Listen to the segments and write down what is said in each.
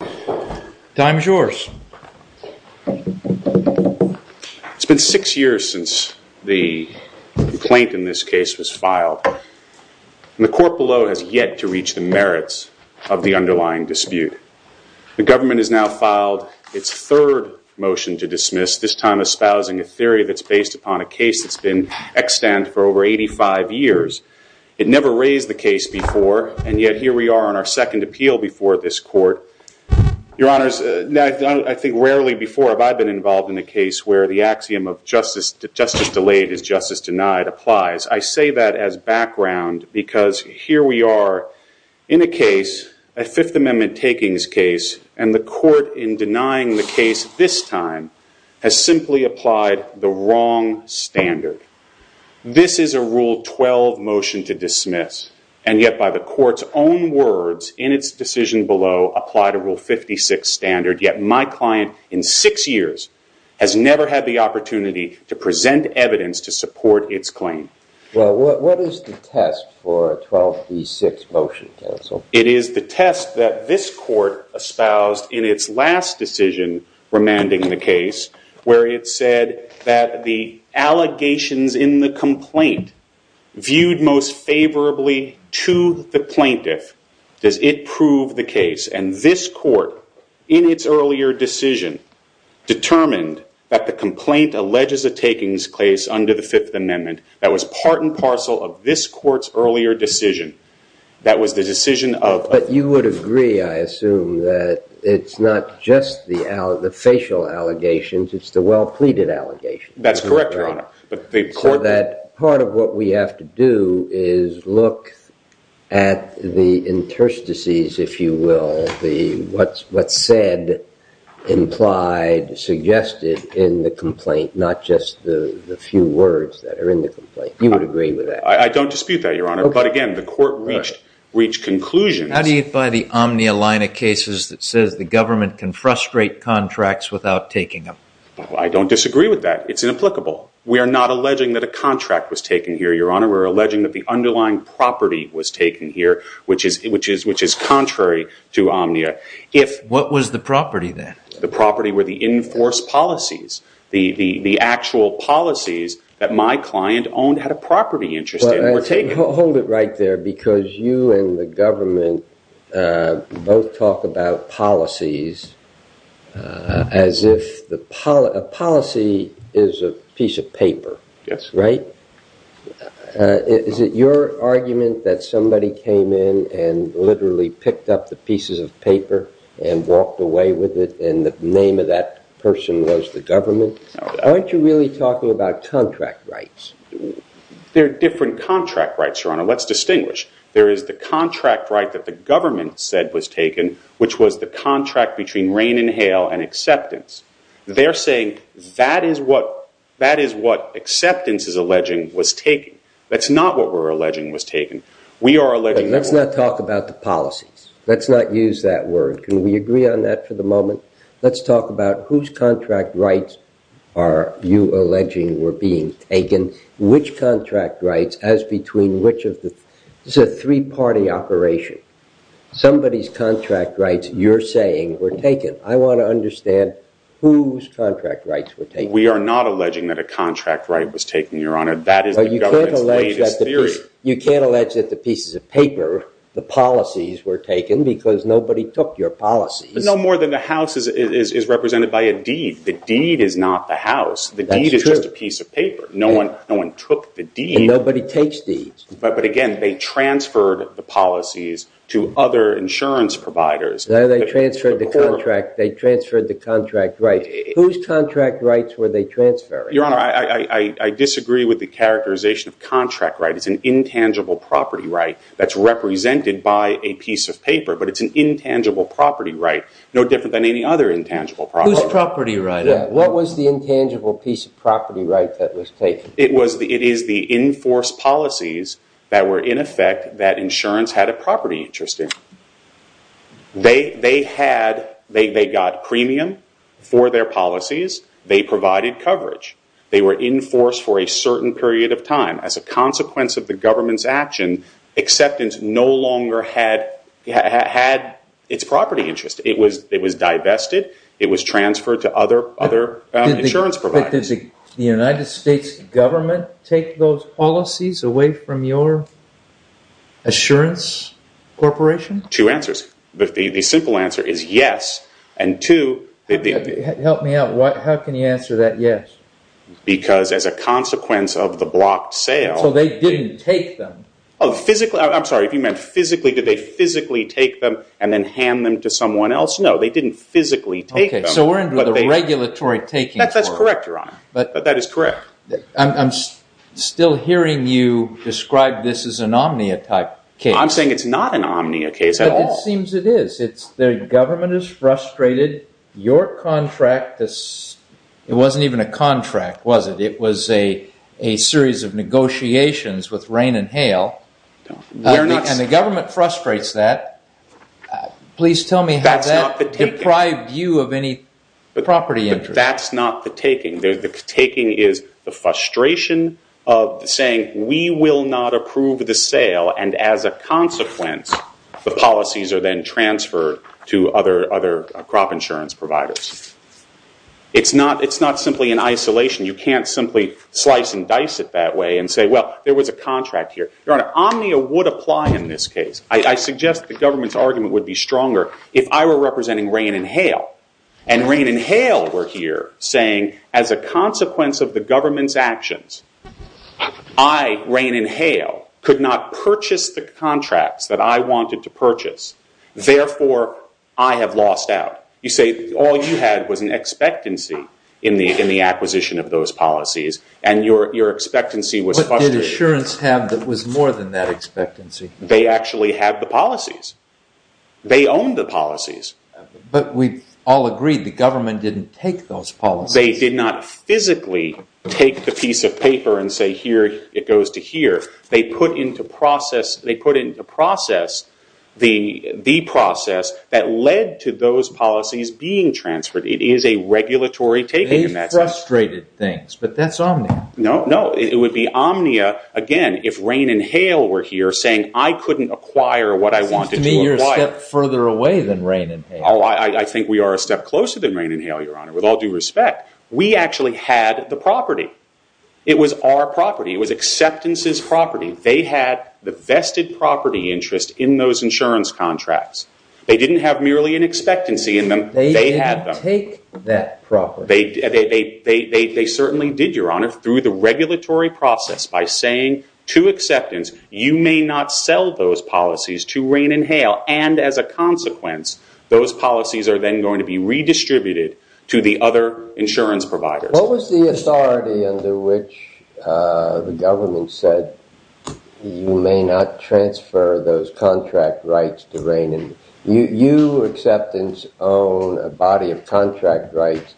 It's been six years since the complaint in this case was filed, and the court below has yet to reach the merits of the underlying dispute. The government has now filed its third motion to dismiss, this time espousing a theory that's based upon a case that's been extant for over 85 years. It never raised the case before, and yet here we are on our second appeal before this court. Your honors, I think rarely before have I been involved in a case where the axiom of justice delayed is justice denied applies. I say that as background because here we are in a case, a Fifth Amendment takings case, and the court in denying the case this time has simply applied the wrong standard. This is a Rule 12 motion to dismiss, and yet by the court's own words, in its decision below applied a Rule 56 standard, yet my client in six years has never had the opportunity to present evidence to support its claim. Well, what is the test for a 12D6 motion, counsel? It is the test that this court espoused in its last decision remanding the case, where it said that the allegations in the complaint viewed most favorably to the plaintiff. Does it prove the case? And this court, in its earlier decision, determined that the complaint alleges a takings case under the Fifth Amendment that was part and parcel of this court's earlier decision. That was the decision of- But you would agree, I assume, that it's not just the facial allegations. It's the well-pleaded allegations. That's correct, Your Honor. But the court- So that part of what we have to do is look at the interstices, if you will, the what's said, implied, suggested in the complaint, not just the few words that are in the complaint. You would agree with that? I don't dispute that, Your Honor. But again, the court reached conclusions- How do you buy the omni-aligna cases that says the government can frustrate contracts without taking them? I don't disagree with that. It's inapplicable. We are not alleging that a contract was taken here, Your Honor. We're alleging that the underlying property was taken here, which is contrary to omnia. What was the property, then? The property were the enforced policies. The actual policies that my client owned had a property interest in were taken. But hold it right there, because you and the government both talk about policies as if a policy is a piece of paper, right? Is it your argument that somebody came in and literally picked up the pieces of paper and walked away with it, and the name of that person was the government? Aren't you really talking about contract rights? There are different contract rights, Your Honor. Let's distinguish. There is the contract right that the government said was taken, which was the contract between rain and hail and acceptance. They're saying that is what acceptance is alleging was taken. That's not what we're alleging was taken. We are alleging- Let's not talk about the policies. Let's not use that word. Can we agree on that for the moment? Let's talk about whose contract rights are you alleging were being taken, which contract rights as between which of the- This is a three-party operation. Somebody's contract rights, you're saying, were taken. I want to understand whose contract rights were taken. We are not alleging that a contract right was taken, Your Honor. That is the government's latest theory. You can't allege that the pieces of paper, the policies, were taken because nobody took your policies. No more than the house is represented by a deed. The deed is not the house. The deed is just a piece of paper. No one took the deed. Nobody takes deeds. But again, they transferred the policies to other insurance providers. They transferred the contract. They transferred the contract right. Whose contract rights were they transferring? Your Honor, I disagree with the characterization of contract right. It's an intangible property right that's represented by a piece of paper, but it's an intangible property right, no different than any other intangible property. Whose property right? Yeah. What was the intangible piece of property right that was taken? It is the enforced policies that were, in effect, that insurance had a property interest in. They got premium for their policies. They provided coverage. They were enforced for a certain period of time. As a consequence of the government's action, acceptance no longer had its property interest. It was divested. It was transferred to other insurance providers. Did the United States government take those policies away from your assurance corporation? Two answers. The simple answer is yes. And two... Help me out. How can you answer that yes? Because as a consequence of the blocked sale... So they didn't take them? Oh, physically. I'm sorry, if you meant physically, did they physically take them and then hand them to someone else? No, they didn't physically take them. So we're into the regulatory taking for it. That's correct, Your Honor. That is correct. I'm still hearing you describe this as an Omnia type case. I'm saying it's not an Omnia case at all. But it seems it is. The government is frustrated. Your contract, it wasn't even a contract, was it? It was a series of negotiations with rain and hail. And the government frustrates that. Please tell me how that deprived you of any property interest. That's not the taking. The taking is the frustration of saying, we will not approve the sale. And as a consequence, the policies are then transferred to other crop insurance providers. It's not simply in isolation. You can't simply slice and dice it that way and say, well, there was a contract here. Your Honor, Omnia would apply in this case. I suggest the government's argument would be stronger if I were representing rain and hail. And rain and hail were here saying, as a consequence of the government's actions, I, rain and hail, could not purchase the contracts that I wanted to purchase. Therefore, I have lost out. You say all you had was an expectancy in the acquisition of those policies. And your expectancy was frustrated. What did insurance have that was more than that expectancy? They actually had the policies. They owned the policies. But we've all agreed the government didn't take those policies. They did not physically take the piece of paper and say, here, it goes to here. They put into process the process that led to those policies being transferred. It is a regulatory taking in that sense. They frustrated things. But that's Omnia. No, no. It would be Omnia, again, if rain and hail were here saying, I couldn't acquire what I wanted to acquire. It seems to me you're a step further away than rain and hail. Oh, I think we are a step closer than rain and hail, Your Honor, with all due respect. We actually had the property. It was our property. It was acceptance's property. They had the vested property interest in those insurance contracts. They didn't have merely an expectancy in them. They had them. They didn't take that property. They certainly did, Your Honor, through the regulatory process by saying, to acceptance, you may not sell those policies to rain and hail. And as a consequence, those policies are then going to be redistributed to the other insurance providers. What was the authority under which the government said, you may not transfer those contract rights to rain and hail? You, acceptance, own a body of contract rights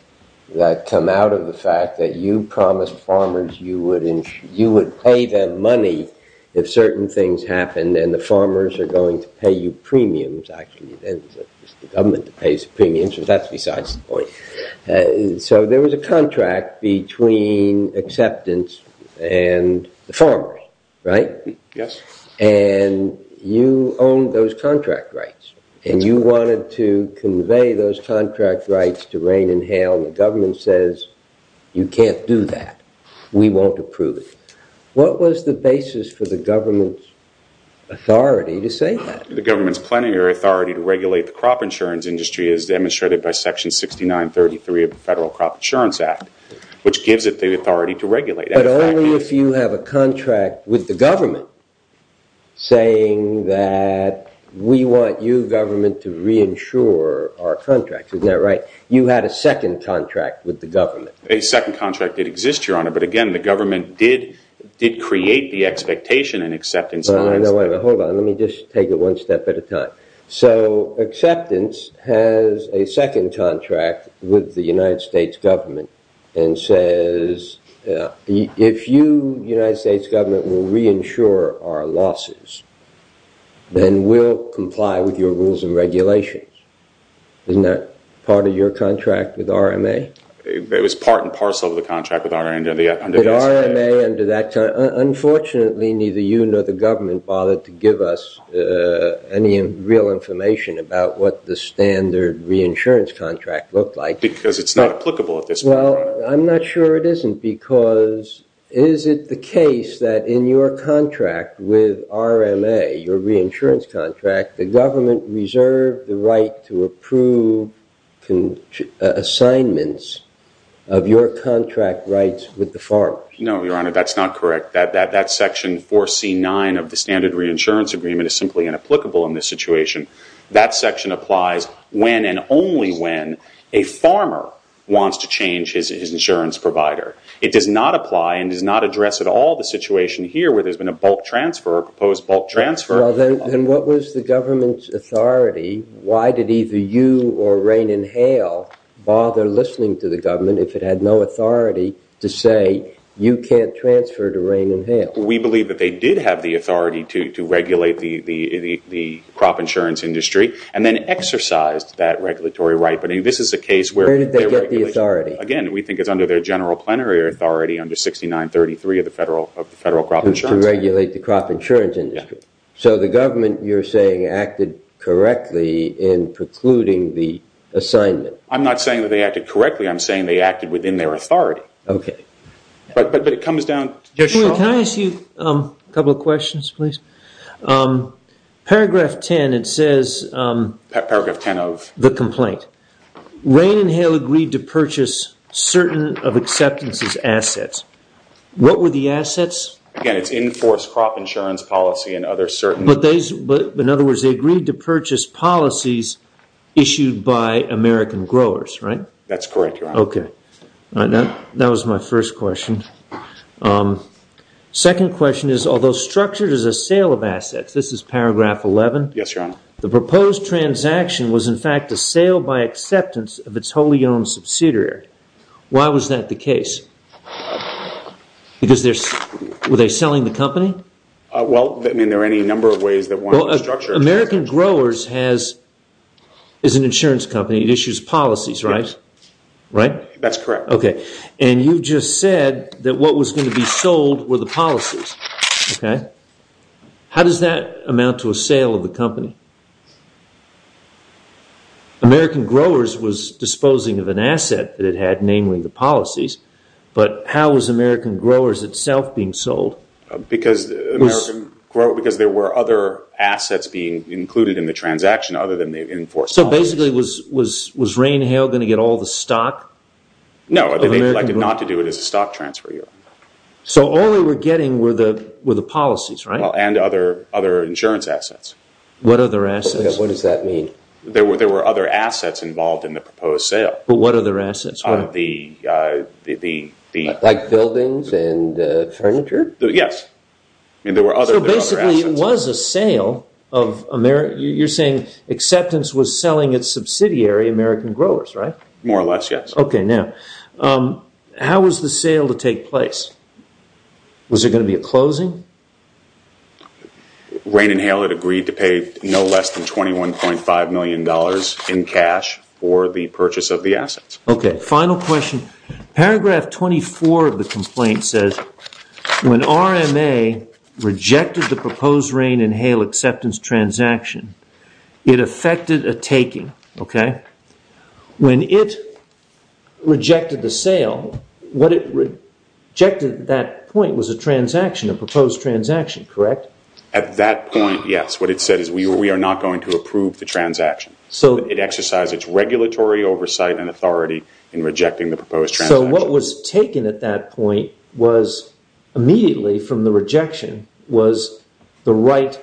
that come out of the fact that you promised farmers you would pay them money if certain things happened, and the farmers are going to pay you premiums. Actually, it's the government that pays the premiums, but that's besides the point. So there was a contract between acceptance and the farmers, right? Yes. And you owned those contract rights, and you wanted to convey those contract rights to rain and hail, and the government says, you can't do that. We won't approve it. What was the basis for the government's authority to say that? The government's plenary authority to regulate the crop insurance industry as demonstrated by section 6933 of the Federal Crop Insurance Act, which gives it the authority to regulate. But only if you have a contract with the government saying that we want you, government, to re-insure our contracts. Isn't that right? You had a second contract with the government. A second contract did exist, Your Honor, but again, the government did create the expectation and acceptance. Hold on. Let me just take it one step at a time. So acceptance has a second contract with the United States government and says, if you, United States government, will re-insure our losses, then we'll comply with your rules and regulations. Isn't that part of your contract with RMA? It was part and parcel of the contract with RMA under the SBA. With RMA under that, unfortunately, neither you nor the government bothered to give us any real information about what the standard re-insurance contract looked like. Because it's not applicable at this point, Your Honor. Well, I'm not sure it isn't because is it the case that in your contract with RMA, your re-insurance contract, the government reserved the right to approve assignments of your contract rights with the farmers? No, Your Honor, that's not correct. That section 4C9 of the standard re-insurance agreement is simply inapplicable in this situation. That section applies when and only when a farmer wants to change his insurance provider. It does not apply and does not address at all the situation here where there's been a bulk transfer, a proposed bulk transfer. Well, then what was the government's authority? Why did either you or rain and hail bother listening to the government if it had no authority to say you can't transfer to rain and hail? We believe that they did have the authority to regulate the crop insurance industry and then exercised that regulatory right. This is a case where... Where did they get the authority? Again, we think it's under their general plenary authority under 6933 of the federal crop insurance. To regulate the crop insurance industry. So the government, you're saying, acted correctly in precluding the assignment. I'm not saying that they acted correctly. I'm saying they acted within their authority. Okay. But it comes down... Can I ask you a couple of questions, please? Paragraph 10, it says... Paragraph 10 of... The complaint. Rain and hail agreed to purchase certain of acceptances assets. What were the assets? Again, it's in force crop insurance policy and other certain... In other words, they agreed to purchase policies issued by American growers, right? That's correct, Your Honor. Okay. That was my first question. Second question is... Although structured as a sale of assets... This is paragraph 11. Yes, Your Honor. The proposed transaction was in fact a sale by acceptance of its wholly owned subsidiary. Why was that the case? Because they're... Were they selling the company? Well, I mean, there are any number of ways that one would structure it. American growers has... Is an insurance company. It issues policies, right? That's correct. Okay. And you've just said that what was going to be sold were the policies, okay? How does that amount to a sale of the company? American growers was disposing of an asset that it had, namely the policies, but how was American growers itself being sold? Because there were other assets being included in the transaction other than the enforced policies. So basically, was Rain Hale going to get all the stock of American growers? No. They elected not to do it as a stock transfer, Your Honor. So all they were getting were the policies, right? And other insurance assets. What other assets? What does that mean? There were other assets involved in the proposed sale. But what other assets? The... Like buildings and furniture? Yes. I mean, there were other assets. So basically, it was a sale of American... You're saying acceptance was selling its subsidiary, American growers, right? More or less, yes. Okay. Now, how was the sale to take place? Was there going to be a closing? Rain and Hale had agreed to pay no less than $21.5 million in cash for the purchase of the assets. Okay. Final question. Paragraph 24 of the complaint says, when RMA rejected the proposed Rain and Hale acceptance transaction, it affected a taking, okay? When it rejected the sale, what it rejected at that point was a transaction, a proposed transaction, correct? At that point, yes. What it said is, we are not going to approve the transaction. So it exercised its regulatory oversight and authority in rejecting the proposed transaction. So what was taken at that point was, immediately from the rejection, was the right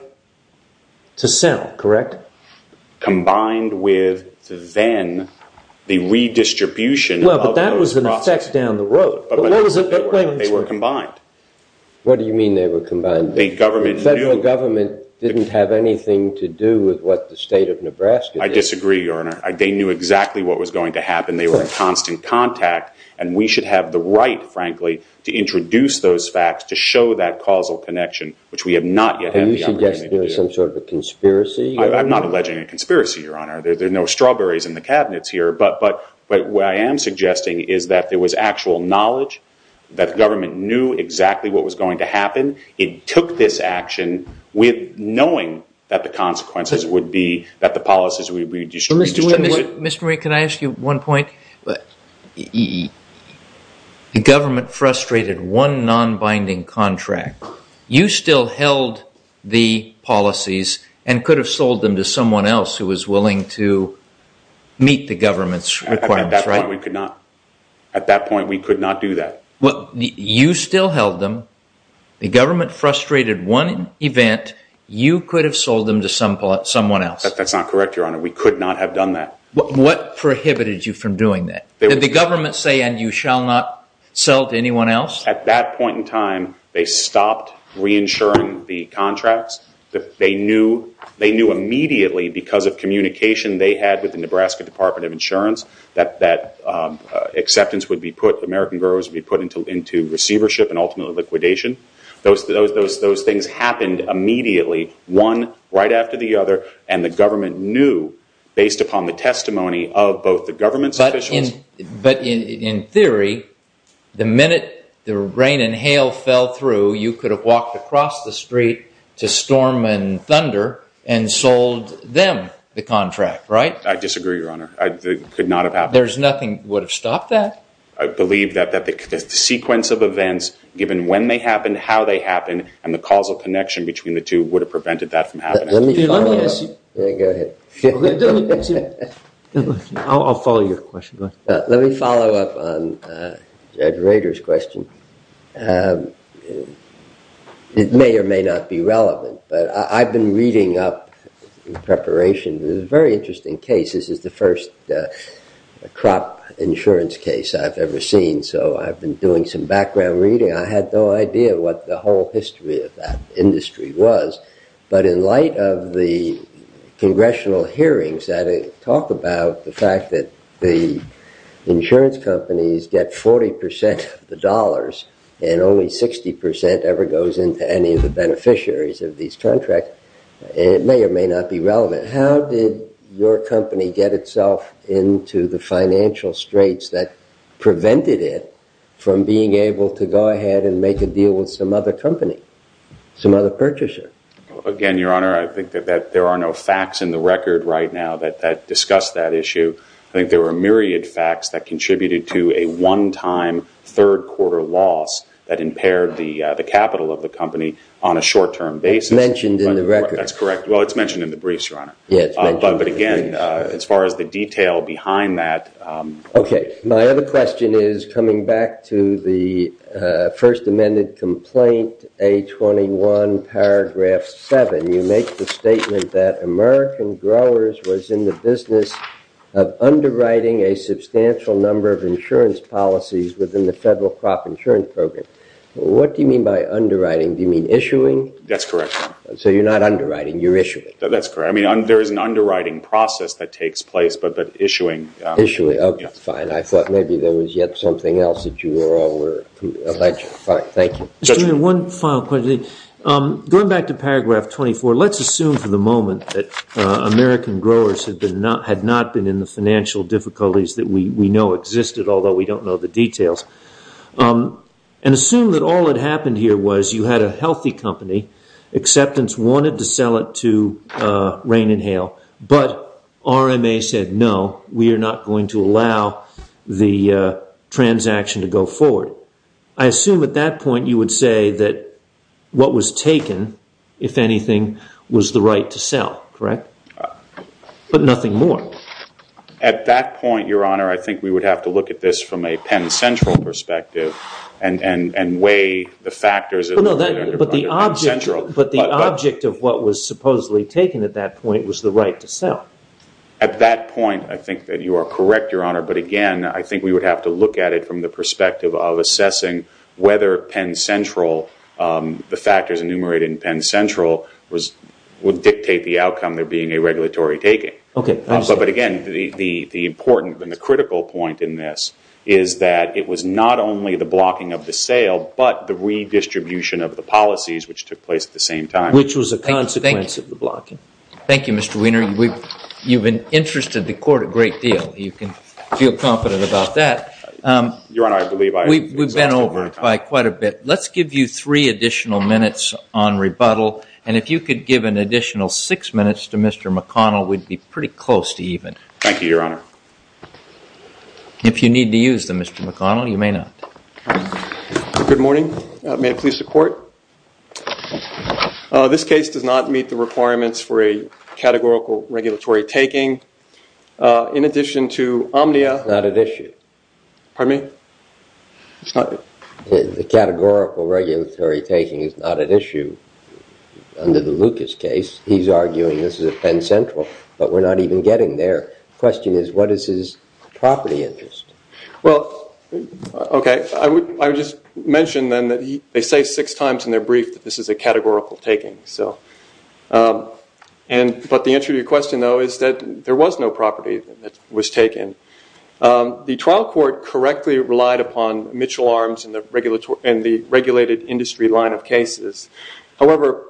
to sell, correct? Combined with, then, the redistribution of those processes. Well, but that was an effect down the road. But what was it... Wait a minute. They were combined. What do you mean they were combined? The government knew... The federal government didn't have anything to do with what the state of Nebraska did. I disagree, Your Honor. They knew exactly what was going to happen. They were in constant contact. And we should have the right, frankly, to introduce those facts, to show that causal connection, which we have not yet had the opportunity to do. Are you suggesting there was some sort of a conspiracy? I'm not alleging a conspiracy, Your Honor. There are no strawberries in the cabinets here. But what I am suggesting is that there was actual knowledge, that the government knew exactly what was going to happen. It took this action with knowing that the consequences would be that the policies would be redistributed. Mr. Murray, can I ask you one point? The government frustrated one non-binding contract. You still held the policies and could have sold them to someone else who was willing to meet the government's requirements, right? At that point, we could not do that. You still held them. The government frustrated one event. That's not correct, Your Honor. We could not have done that. What prohibited you from doing that? Did the government say, and you shall not sell to anyone else? At that point in time, they stopped reinsuring the contracts. They knew immediately, because of communication they had with the Nebraska Department of Insurance, that acceptance would be put, American gurus would be put into receivership and ultimately liquidation. Those things happened immediately, one right after the other. And the government knew, based upon the testimony of both the government's officials. But in theory, the minute the rain and hail fell through, you could have walked across the street to Storm and Thunder and sold them the contract, right? I disagree, Your Honor. It could not have happened. There's nothing that would have stopped that? I believe that the sequence of events, given when they happened, how they happened, and the causal connection between the two, would have prevented that from happening. Let me follow up on Judge Rader's question. It may or may not be relevant, but I've been reading up in preparation, there's a very interesting case. This is the first crop insurance case I've ever seen, so I've been doing some background reading. I had no idea what the whole history of that industry was. But in light of the congressional hearings that talk about the fact that the insurance companies get 40% of the dollars and only 60% ever goes into any of the beneficiaries of these contracts, it may or may not be relevant. How did your company get itself into the financial straits that prevented it from being able to go ahead and make a deal with some other company, some other purchaser? Again, Your Honor, I think that there are no facts in the record right now that discuss that issue. I think there were myriad facts that contributed to a one-time third quarter loss that impaired the capital of the company on a short-term basis. It's mentioned in the record. That's correct. Well, it's mentioned in the briefs, Your Honor. Yes, it's mentioned in the briefs. But again, as far as the detail behind that... Okay. My other question is coming back to the First Amendment complaint, A21, paragraph 7. You make the statement that American Growers was in the business of underwriting a substantial number of insurance policies within the Federal Crop Insurance Program. What do you mean by underwriting? Do you mean issuing? That's correct, Your Honor. So you're not underwriting. You're issuing. That's correct. I mean, there is an underwriting process that takes place, but issuing... Okay. Fine. I thought maybe there was yet something else that you were aware of. Fine. Thank you. Judge? Just one final question. Going back to paragraph 24, let's assume for the moment that American Growers had not been in the financial difficulties that we know existed, although we don't know the details, and assume that all that happened here was you had a healthy company, acceptance wanted to sell it to Rain and Hail, but RMA said, no, we are not going to allow the transaction to go forward. I assume at that point, you would say that what was taken, if anything, was the right to sell, correct? But nothing more. At that point, Your Honor, I think we would have to look at this from a Penn Central perspective But the object of what was supposedly taken at that point was the right to sell. At that point, I think that you are correct, Your Honor, but again, I think we would have to look at it from the perspective of assessing whether Penn Central, the factors enumerated in Penn Central, would dictate the outcome there being a regulatory taking. Okay. But again, the important and the critical point in this is that it was not only the policies which took place at the same time. Which was a consequence of the blocking. Thank you, Mr. Wiener. You have been interested in the court a great deal. You can feel confident about that. Your Honor, I believe I have exhausted my time. We have been over it by quite a bit. Let's give you three additional minutes on rebuttal, and if you could give an additional six minutes to Mr. McConnell, we would be pretty close to even. Thank you, Your Honor. If you need to use them, Mr. McConnell, you may not. Good morning. Good morning. May I please report? This case does not meet the requirements for a categorical regulatory taking. In addition to Omnia... It's not at issue. Pardon me? It's not... The categorical regulatory taking is not at issue under the Lucas case. He's arguing this is at Penn Central, but we're not even getting there. Question is, what is his property interest? Well, okay. I would just mention then that they say six times in their brief that this is a categorical taking. But the answer to your question, though, is that there was no property that was taken. The trial court correctly relied upon Mitchell Arms and the regulated industry line of cases. However,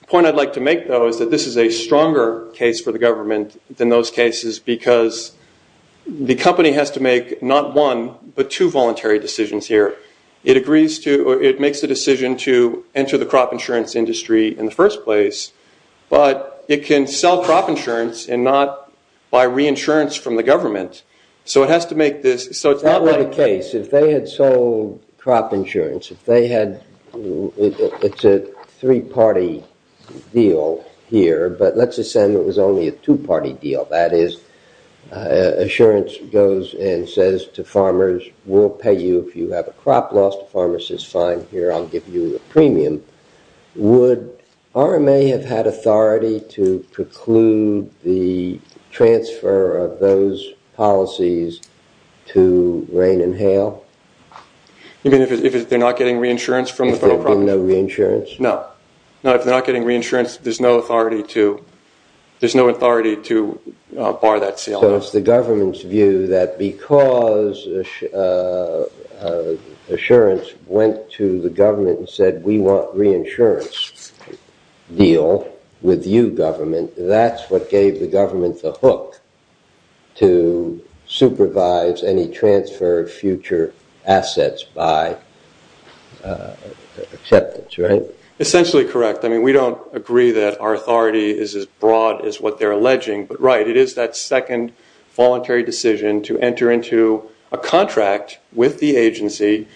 the point I'd like to make, though, is that this is a stronger case for the government than those cases because the company has to make not one, but two voluntary decisions here. It agrees to... It makes a decision to enter the crop insurance industry in the first place, but it can sell crop insurance and not buy reinsurance from the government. So it has to make this... So it's not like... That would be the case. If they had sold crop insurance, if they had... It's a three-party deal here, but let's assume it was only a two-party deal. That is, insurance goes and says to farmers, we'll pay you if you have a crop loss. The farmer says, fine, here, I'll give you a premium. Would RMA have had authority to preclude the transfer of those policies to rain and hail? You mean if they're not getting reinsurance from the federal property? If they're getting no reinsurance? No. No, if they're not getting reinsurance, there's no authority to bar that sale. So it's the government's view that because insurance went to the government and said, we want reinsurance, deal with you, government, that's what gave the government the hook to by acceptance, right? Essentially correct. I mean, we don't agree that our authority is as broad as what they're alleging, but right. It is that second voluntary decision to enter into a contract with the agency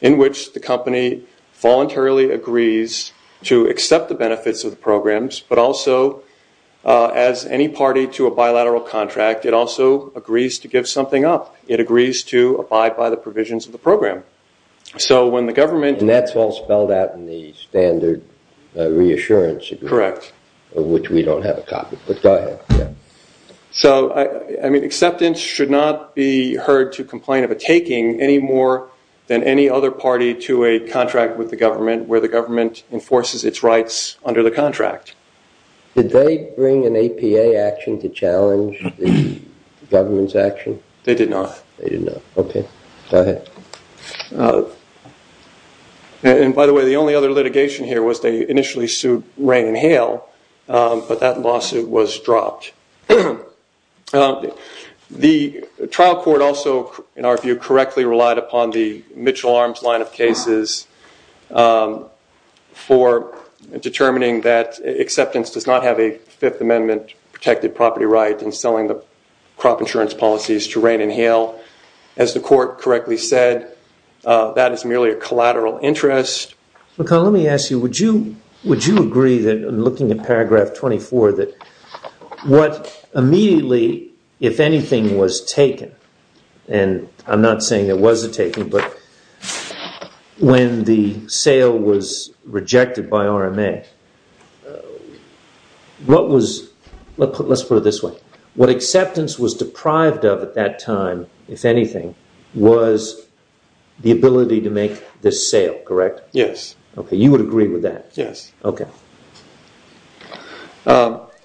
in which the company voluntarily agrees to accept the benefits of the programs, but also as any party to a bilateral contract, it also agrees to give something up. It agrees to abide by the provisions of the program. So when the government... And that's all spelled out in the standard reassurance agreement. Correct. Which we don't have a copy, but go ahead. So I mean, acceptance should not be heard to complain of a taking any more than any other party to a contract with the government where the government enforces its rights under the contract. Did they bring an APA action to challenge the government's action? They did not. They did not. Okay. Go ahead. And by the way, the only other litigation here was they initially sued rain and hail, but that lawsuit was dropped. The trial court also, in our view, correctly relied upon the Mitchell Arms line of cases for determining that acceptance does not have a Fifth Amendment protected property right in selling the crop insurance policies to rain and hail. As the court correctly said, that is merely a collateral interest. McCollum, let me ask you, would you agree that in looking at paragraph 24 that what immediately if anything was taken, and I'm not saying there was a taking, but when the was deprived of at that time, if anything, was the ability to make this sale, correct? Yes. Okay. You would agree with that? Yes. Okay.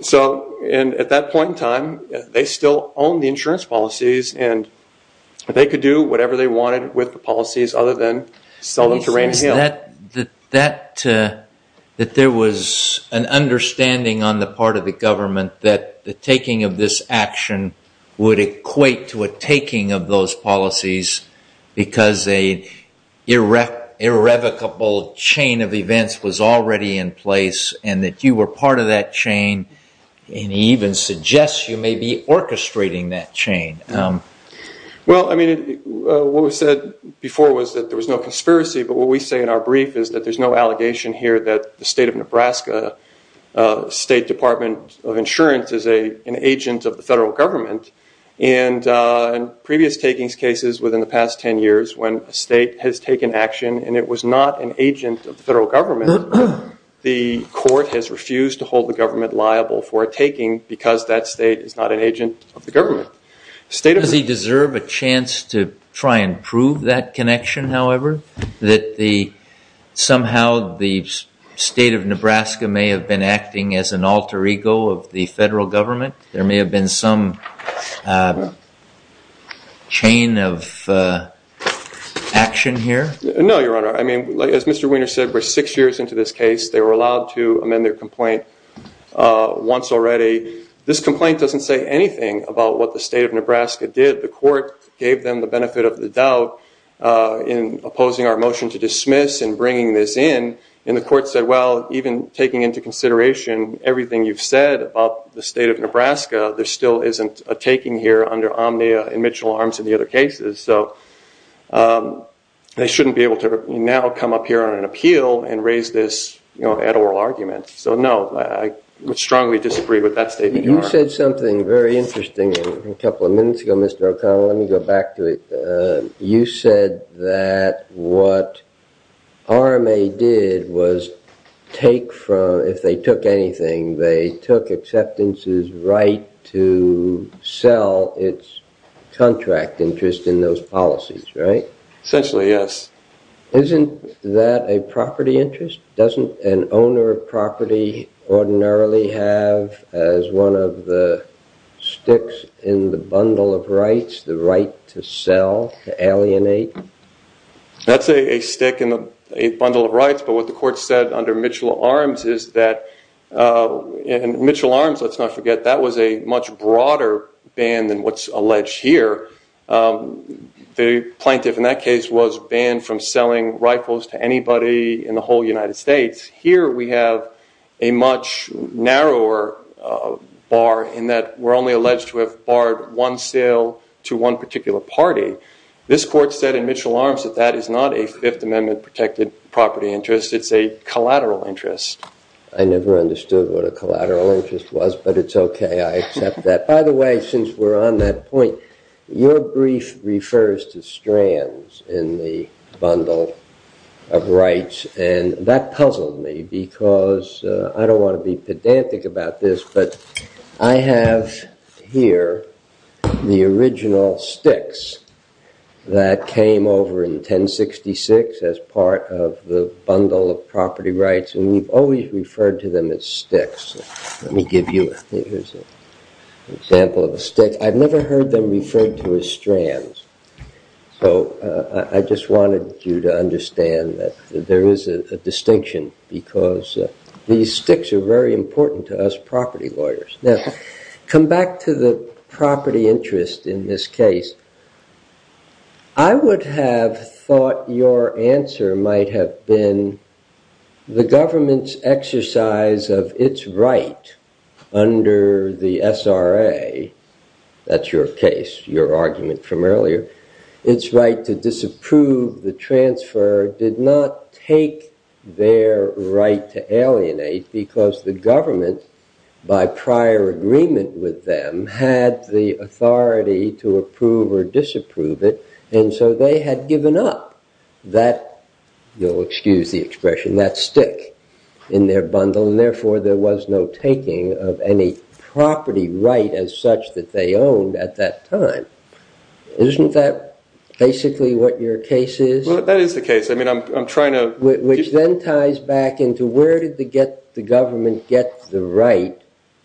So, and at that point in time, they still owned the insurance policies and they could That there was an understanding on the part of the government that the taking of this action would equate to a taking of those policies because a irrevocable chain of events was already in place and that you were part of that chain, and even suggests you may be orchestrating that chain. Well, I mean, what was said before was that there was no conspiracy, but what we say in our brief is that there's no allegation here that the state of Nebraska, State Department of Insurance is an agent of the federal government, and previous takings cases within the past 10 years when a state has taken action and it was not an agent of the federal government, the court has refused to hold the government liable for a taking because that state is not an agent of the government. Does he deserve a chance to try and prove that connection, however, that somehow the state of Nebraska may have been acting as an alter ego of the federal government? There may have been some chain of action here? No, Your Honor. I mean, as Mr. Weiner said, we're six years into this case. They were allowed to amend their complaint once already. This complaint doesn't say anything about what the state of Nebraska did. The court gave them the benefit of the doubt in opposing our motion to dismiss and bringing this in, and the court said, well, even taking into consideration everything you've said about the state of Nebraska, there still isn't a taking here under omnia in Mitchell Arms and the other cases, so they shouldn't be able to now come up here on an appeal and raise this at oral argument. So no, I would strongly disagree with that statement, Your Honor. You said something very interesting a couple of minutes ago, Mr. O'Connell. Let me go back to it. You said that what RMA did was take from, if they took anything, they took acceptance's right to sell its contract interest in those policies, right? Essentially, yes. Isn't that a property interest? Doesn't an owner of property ordinarily have as one of the sticks in the bundle of rights the right to sell, to alienate? That's a stick in a bundle of rights, but what the court said under Mitchell Arms is that, and Mitchell Arms, let's not forget, that was a much broader ban than what's alleged here. The plaintiff in that case was banned from selling rifles to anybody in the whole United States. Here we have a much narrower bar in that we're only alleged to have barred one sale to one particular party. This court said in Mitchell Arms that that is not a Fifth Amendment protected property interest. It's a collateral interest. I never understood what a collateral interest was, but it's okay. I accept that. By the way, since we're on that point, your brief refers to strands in the bundle of rights, and that puzzled me because I don't want to be pedantic about this, but I have here the original sticks that came over in 1066 as part of the bundle of property rights, and we've always referred to them as sticks. Let me give you an example of a stick. I've never heard them referred to as strands, so I just wanted you to understand that there is a distinction because these sticks are very important to us property lawyers. Now, come back to the property interest in this case. I would have thought your answer might have been the government's exercise of its right under the SRA, that's your case, your argument from earlier, its right to disapprove the transfer did not take their right to alienate because the government, by prior agreement with them, had the authority to approve or disapprove it, and so they had given up that stick in their bundle, and therefore there was no taking of any property right as such that they owned at that time. Isn't that basically what your case is? That is the case. Which then ties back into where did the government get the right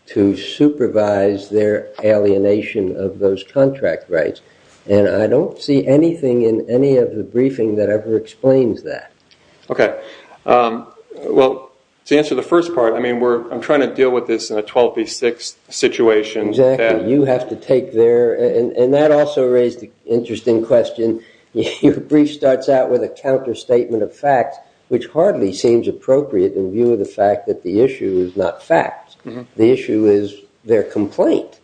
to supervise their alienation of those contract rights, and I don't see anything in any of the briefing that ever explains that. Okay. Well, to answer the first part, I'm trying to deal with this in a 12 v. 6 situation. Exactly. You have to take their, and that also raised an interesting question. Your brief starts out with a counterstatement of fact, which hardly seems appropriate in view of the fact that the issue is not fact. The issue is their complaint.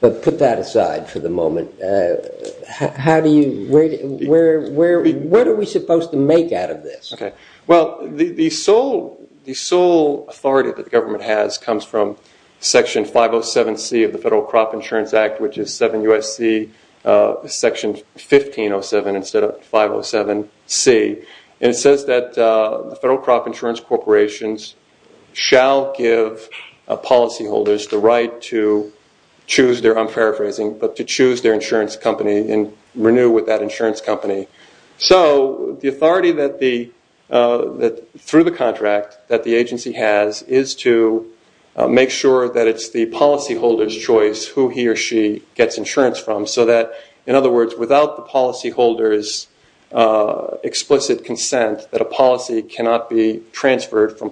But put that aside for the moment. How do you, where are we supposed to make out of this? Okay. Well, the sole authority that the government has comes from Section 507C of the Federal Crop Insurance Corporation. And it says that the Federal Crop Insurance Corporation shall give policyholders the right to choose their, I'm paraphrasing, but to choose their insurance company and renew with that insurance company. So the authority through the contract that the agency has is to make sure that it's the policyholders' explicit consent that a policy cannot be transferred from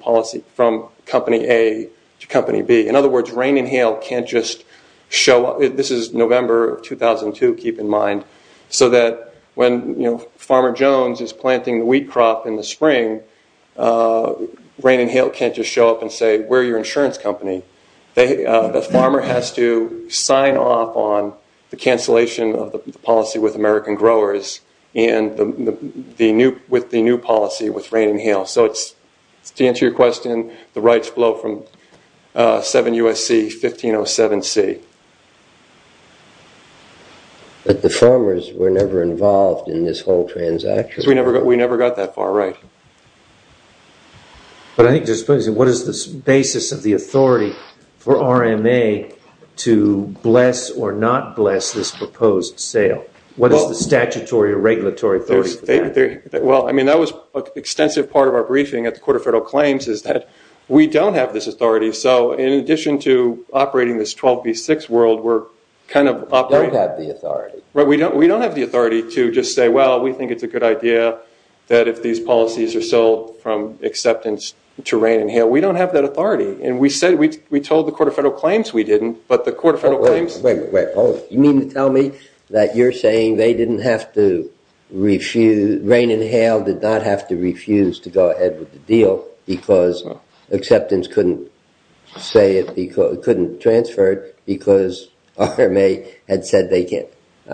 company A to company B. In other words, Rain and Hail can't just show up, this is November of 2002, keep in mind, so that when Farmer Jones is planting the wheat crop in the spring, Rain and Hail can't just show up and say, we're your insurance company. The farmer has to sign off on the cancellation of the policy with American growers and with the new policy with Rain and Hail. So to answer your question, the rights flow from 7 U.S.C. 1507C. But the farmers were never involved in this whole transaction? We never got that far right. What is the basis of the authority for RMA to bless or not bless this proposed sale? What is the statutory or regulatory authority for that? That was an extensive part of our briefing at the Court of Federal Claims is that we don't have this authority. So in addition to operating this 12B6 world, we're kind of operating... We don't have the authority. We don't have the authority to just say, well, we think it's a good idea that if these policies are sold from acceptance to Rain and Hail, we don't have that authority. And we said, we told the Court of Federal Claims we didn't, but the Court of Federal Claims... You mean to tell me that you're saying they didn't have to refuse, Rain and Hail did not have to refuse to go ahead with the deal because acceptance couldn't transfer it because RMA had said they didn't?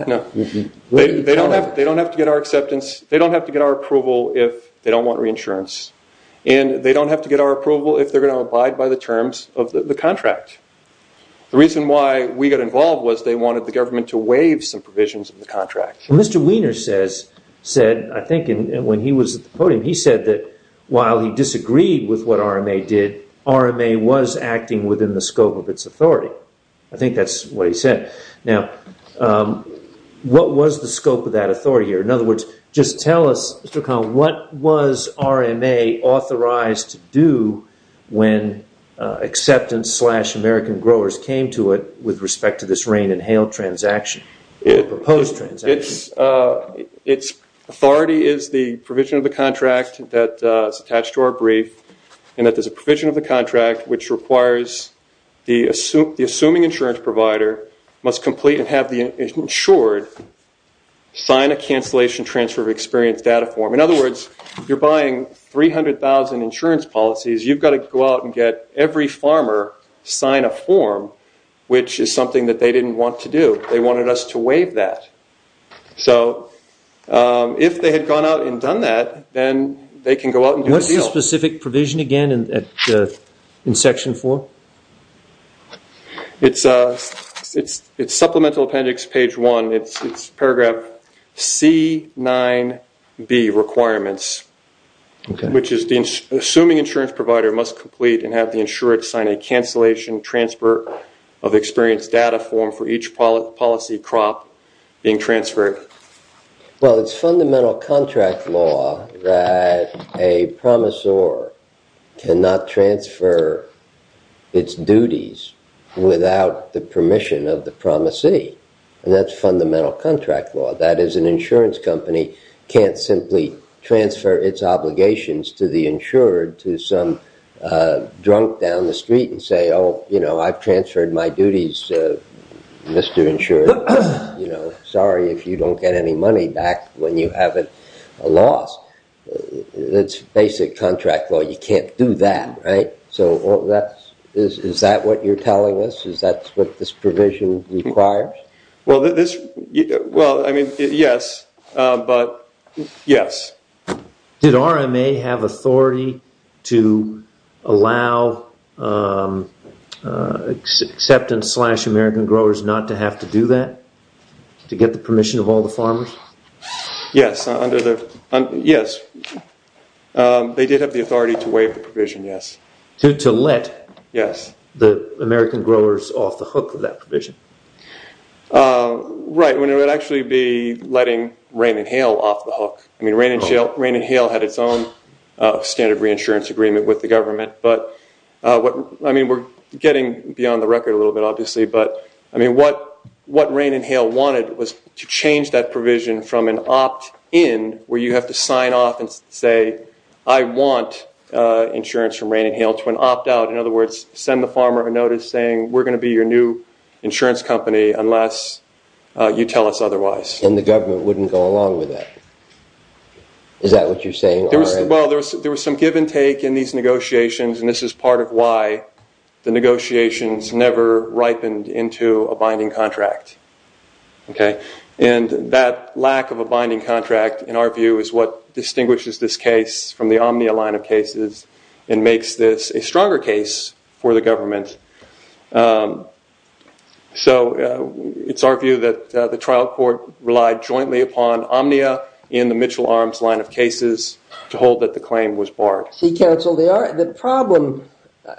No. They don't have to get our acceptance. They don't have to get our approval if they don't want reinsurance. And they don't have to get our approval if they're going to abide by the terms of the contract. The reason why we got involved was they wanted the government to waive some provisions of the contract. Mr. Wiener said, I think when he was at the podium, he said that while he disagreed with what RMA did, RMA was acting within the scope of its authority. I think that's what he said. Now, what was the scope of that authority here? In other words, just tell us, Mr. O'Connell, what was RMA authorized to do when acceptance slash American growers came to it with respect to this Rain and Hail transaction, the proposed transaction? Its authority is the provision of the contract that's attached to our brief, and that there's a provision of the contract which requires the assuming insurance provider must complete and have the insured sign a cancellation transfer of experience data form. In other words, you're buying 300,000 insurance policies. You've got to go out and get every farmer sign a form, which is something that they didn't want to do. They wanted us to waive that. So if they had gone out and done that, then they can go out and do the deal. Is that specific provision again in Section 4? It's Supplemental Appendix, Page 1. It's Paragraph C9B, Requirements, which is the assuming insurance provider must complete and have the insured sign a cancellation transfer of experience data form for each policy crop being transferred. Well, it's fundamental contract law that a promisor cannot transfer its duties without the permission of the promisee, and that's fundamental contract law. That is, an insurance company can't simply transfer its obligations to the insured to some drunk down the street and say, oh, I've transferred my duties, Mr. Insurer. Sorry if you don't get any money back when you have a loss. It's basic contract law. You can't do that, right? So is that what you're telling us? Is that what this provision requires? Well, I mean, yes, but yes. Did RMA have authority to allow acceptance slash American growers not to have to do that to get the permission of all the farmers? Yes, they did have the authority to waive the provision, yes. To let the American growers off the hook of that provision? Right, when it would actually be letting rain and hail off the hook. I mean, rain and hail had its own standard reinsurance agreement with the government, but I mean, we're getting beyond the record a little bit, obviously, but I mean, what rain and hail wanted was to change that provision from an opt-in, where you have to sign off and say, I want insurance from rain and hail, to an opt-out. In other words, send the farmer a notice saying, we're going to be your new insurance company unless you tell us otherwise. And the government wouldn't go along with that? Is that what you're saying? Well, there was some give and take in these negotiations, and this is part of why the negotiations never ripened into a binding contract. And that lack of a binding contract, in our view, is what distinguishes this case from the Omnia line of cases and makes this a stronger case for the government. So, it's our view that the trial court relied jointly upon Omnia in the Mitchell Arms line of cases to hold that the claim was barred. See, counsel, the problem,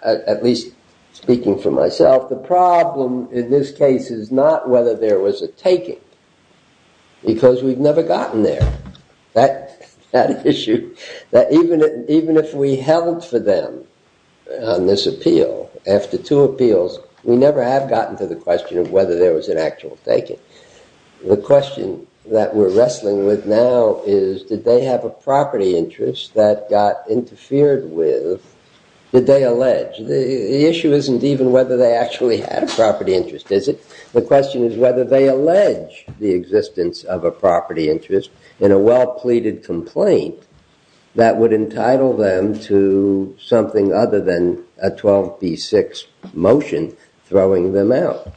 at least speaking for myself, the problem in this case is not whether there was a taking, because we've never gotten there. That issue, even if we held for them on this appeal, after two appeals, we never have gotten to the question of whether there was an actual taking. The question that we're wrestling with now is, did they have a property interest that got interfered with? Did they allege? The issue isn't even whether they actually had a property interest, is it? The question is whether they allege the existence of a property interest in a well-pleaded complaint that would entitle them to something other than a 12B6 motion throwing them out.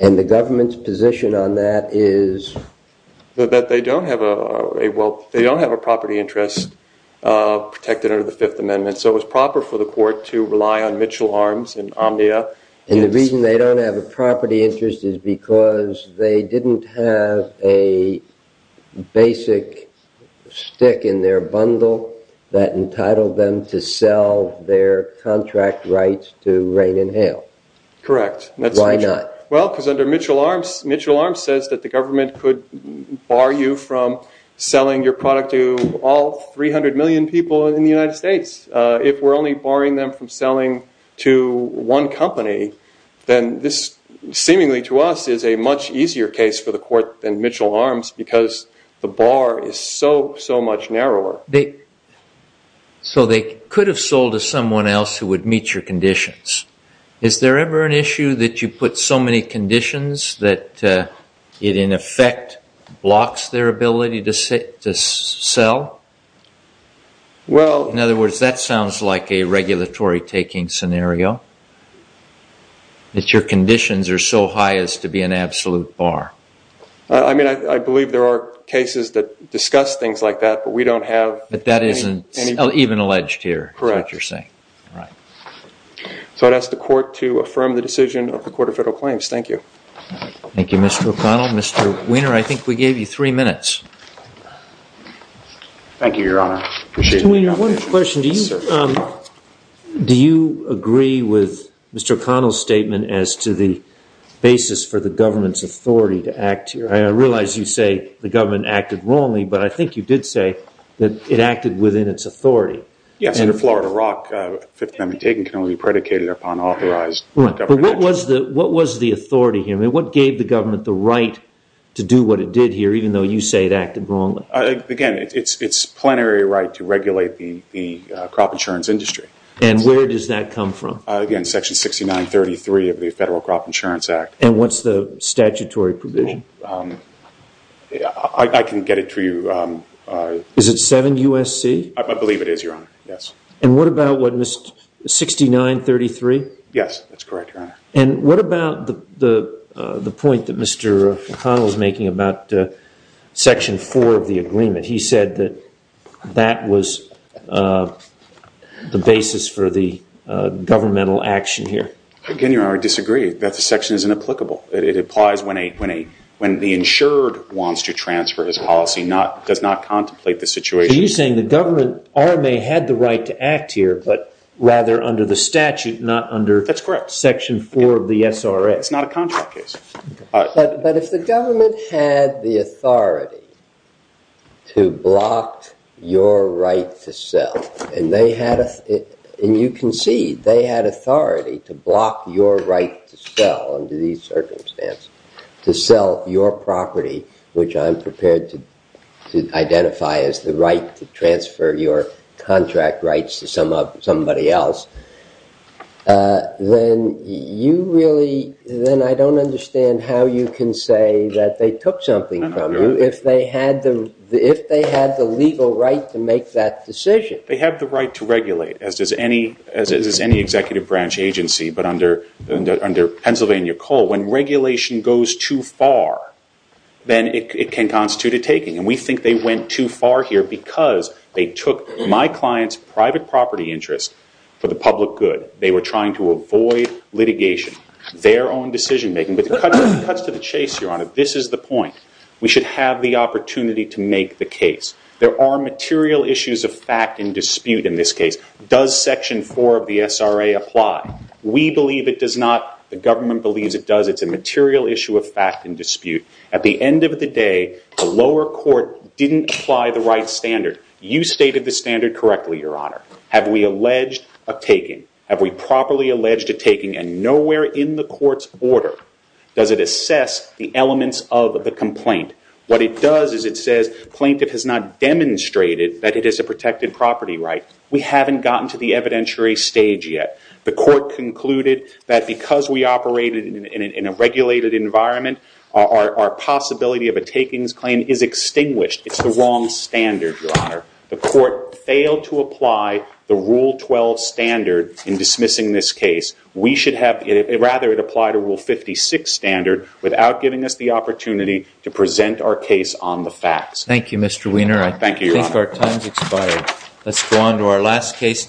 And the government's position on that is? That they don't have a property interest protected under the Fifth Amendment, so it was proper for the court to rely on Mitchell Arms and Omnia. And the reason they don't have a property interest is because they didn't have a basic stick in their bundle that entitled them to sell their contract rights to rain and hail. Correct. Why not? Well, because under Mitchell Arms, Mitchell Arms says that the government could bar you from selling your product to all 300 million people in the United States. If we're only barring them from selling to one company, then this seemingly to us is a much easier case for the court than Mitchell Arms because the bar is so, so much narrower. So they could have sold to someone else who would meet your conditions. Is there ever an issue that you put so many conditions that it in effect blocks their ability to sell? Well... In other words, that sounds like a regulatory taking scenario, that your conditions are so high as to be an absolute bar. I mean, I believe there are cases that discuss things like that, but we don't have... But that isn't even alleged here, is what you're saying. Correct. All right. So I'd ask the court to affirm the decision of the Court of Federal Claims. Thank you. Thank you, Mr. O'Connell. Well, Mr. Wiener, I think we gave you three minutes. Thank you, Your Honor. Mr. Wiener, one question. Yes, sir. Do you agree with Mr. O'Connell's statement as to the basis for the government's authority to act here? I realize you say the government acted wrongly, but I think you did say that it acted within its authority. Yes, under Florida Rock, Fifth Amendment taking can only be predicated upon authorized government actions. But what was the authority here? I mean, what gave the government the right to do what it did here, even though you say it acted wrongly? Again, it's plenary right to regulate the crop insurance industry. And where does that come from? Again, Section 6933 of the Federal Crop Insurance Act. And what's the statutory provision? I can get it to you. Is it 7 U.S.C.? I believe it is, Your Honor. Yes. And what about what, 6933? Yes, that's correct, Your Honor. And what about the point that Mr. O'Connell is making about Section 4 of the agreement? He said that that was the basis for the governmental action here. Again, Your Honor, I disagree. That section is inapplicable. It applies when the insured wants to transfer his policy, does not contemplate the situation. So you're saying the government had the right to act here, but rather under the statute, not under Section 4? It's not a contract case. But if the government had the authority to block your right to sell, and you can see they had authority to block your right to sell under these circumstances, to sell your property, which I'm prepared to identify as the right to transfer your contract rights to somebody else, then I don't understand how you can say that they took something from you if they had the legal right to make that decision. They have the right to regulate, as does any executive branch agency, but under Pennsylvania Cole, when regulation goes too far, then it can constitute a taking. And we think they went too far here because they took my client's private property interest for the public good. They were trying to avoid litigation, their own decision-making. But it cuts to the chase, Your Honor. This is the point. We should have the opportunity to make the case. There are material issues of fact and dispute in this case. Does Section 4 of the SRA apply? We believe it does not. The government believes it does. It's a material issue of fact and dispute. At the end of the day, the lower court didn't apply the right standard. You stated the standard correctly, Your Honor. Have we alleged a taking? Have we properly alleged a taking? And nowhere in the court's order does it assess the elements of the complaint. What it does is it says plaintiff has not demonstrated that it is a protected property right. We haven't gotten to the evidentiary stage yet. The court concluded that because we operated in a regulated environment, our possibility of a takings claim is extinguished. It's the wrong standard, Your Honor. The court failed to apply the Rule 12 standard in dismissing this case. We should have rather it apply to Rule 56 standard without giving us the opportunity to present our case on the facts. Thank you, Mr. Weiner. Thank you, Your Honor. I think our time has expired. Let's go on to our last case today.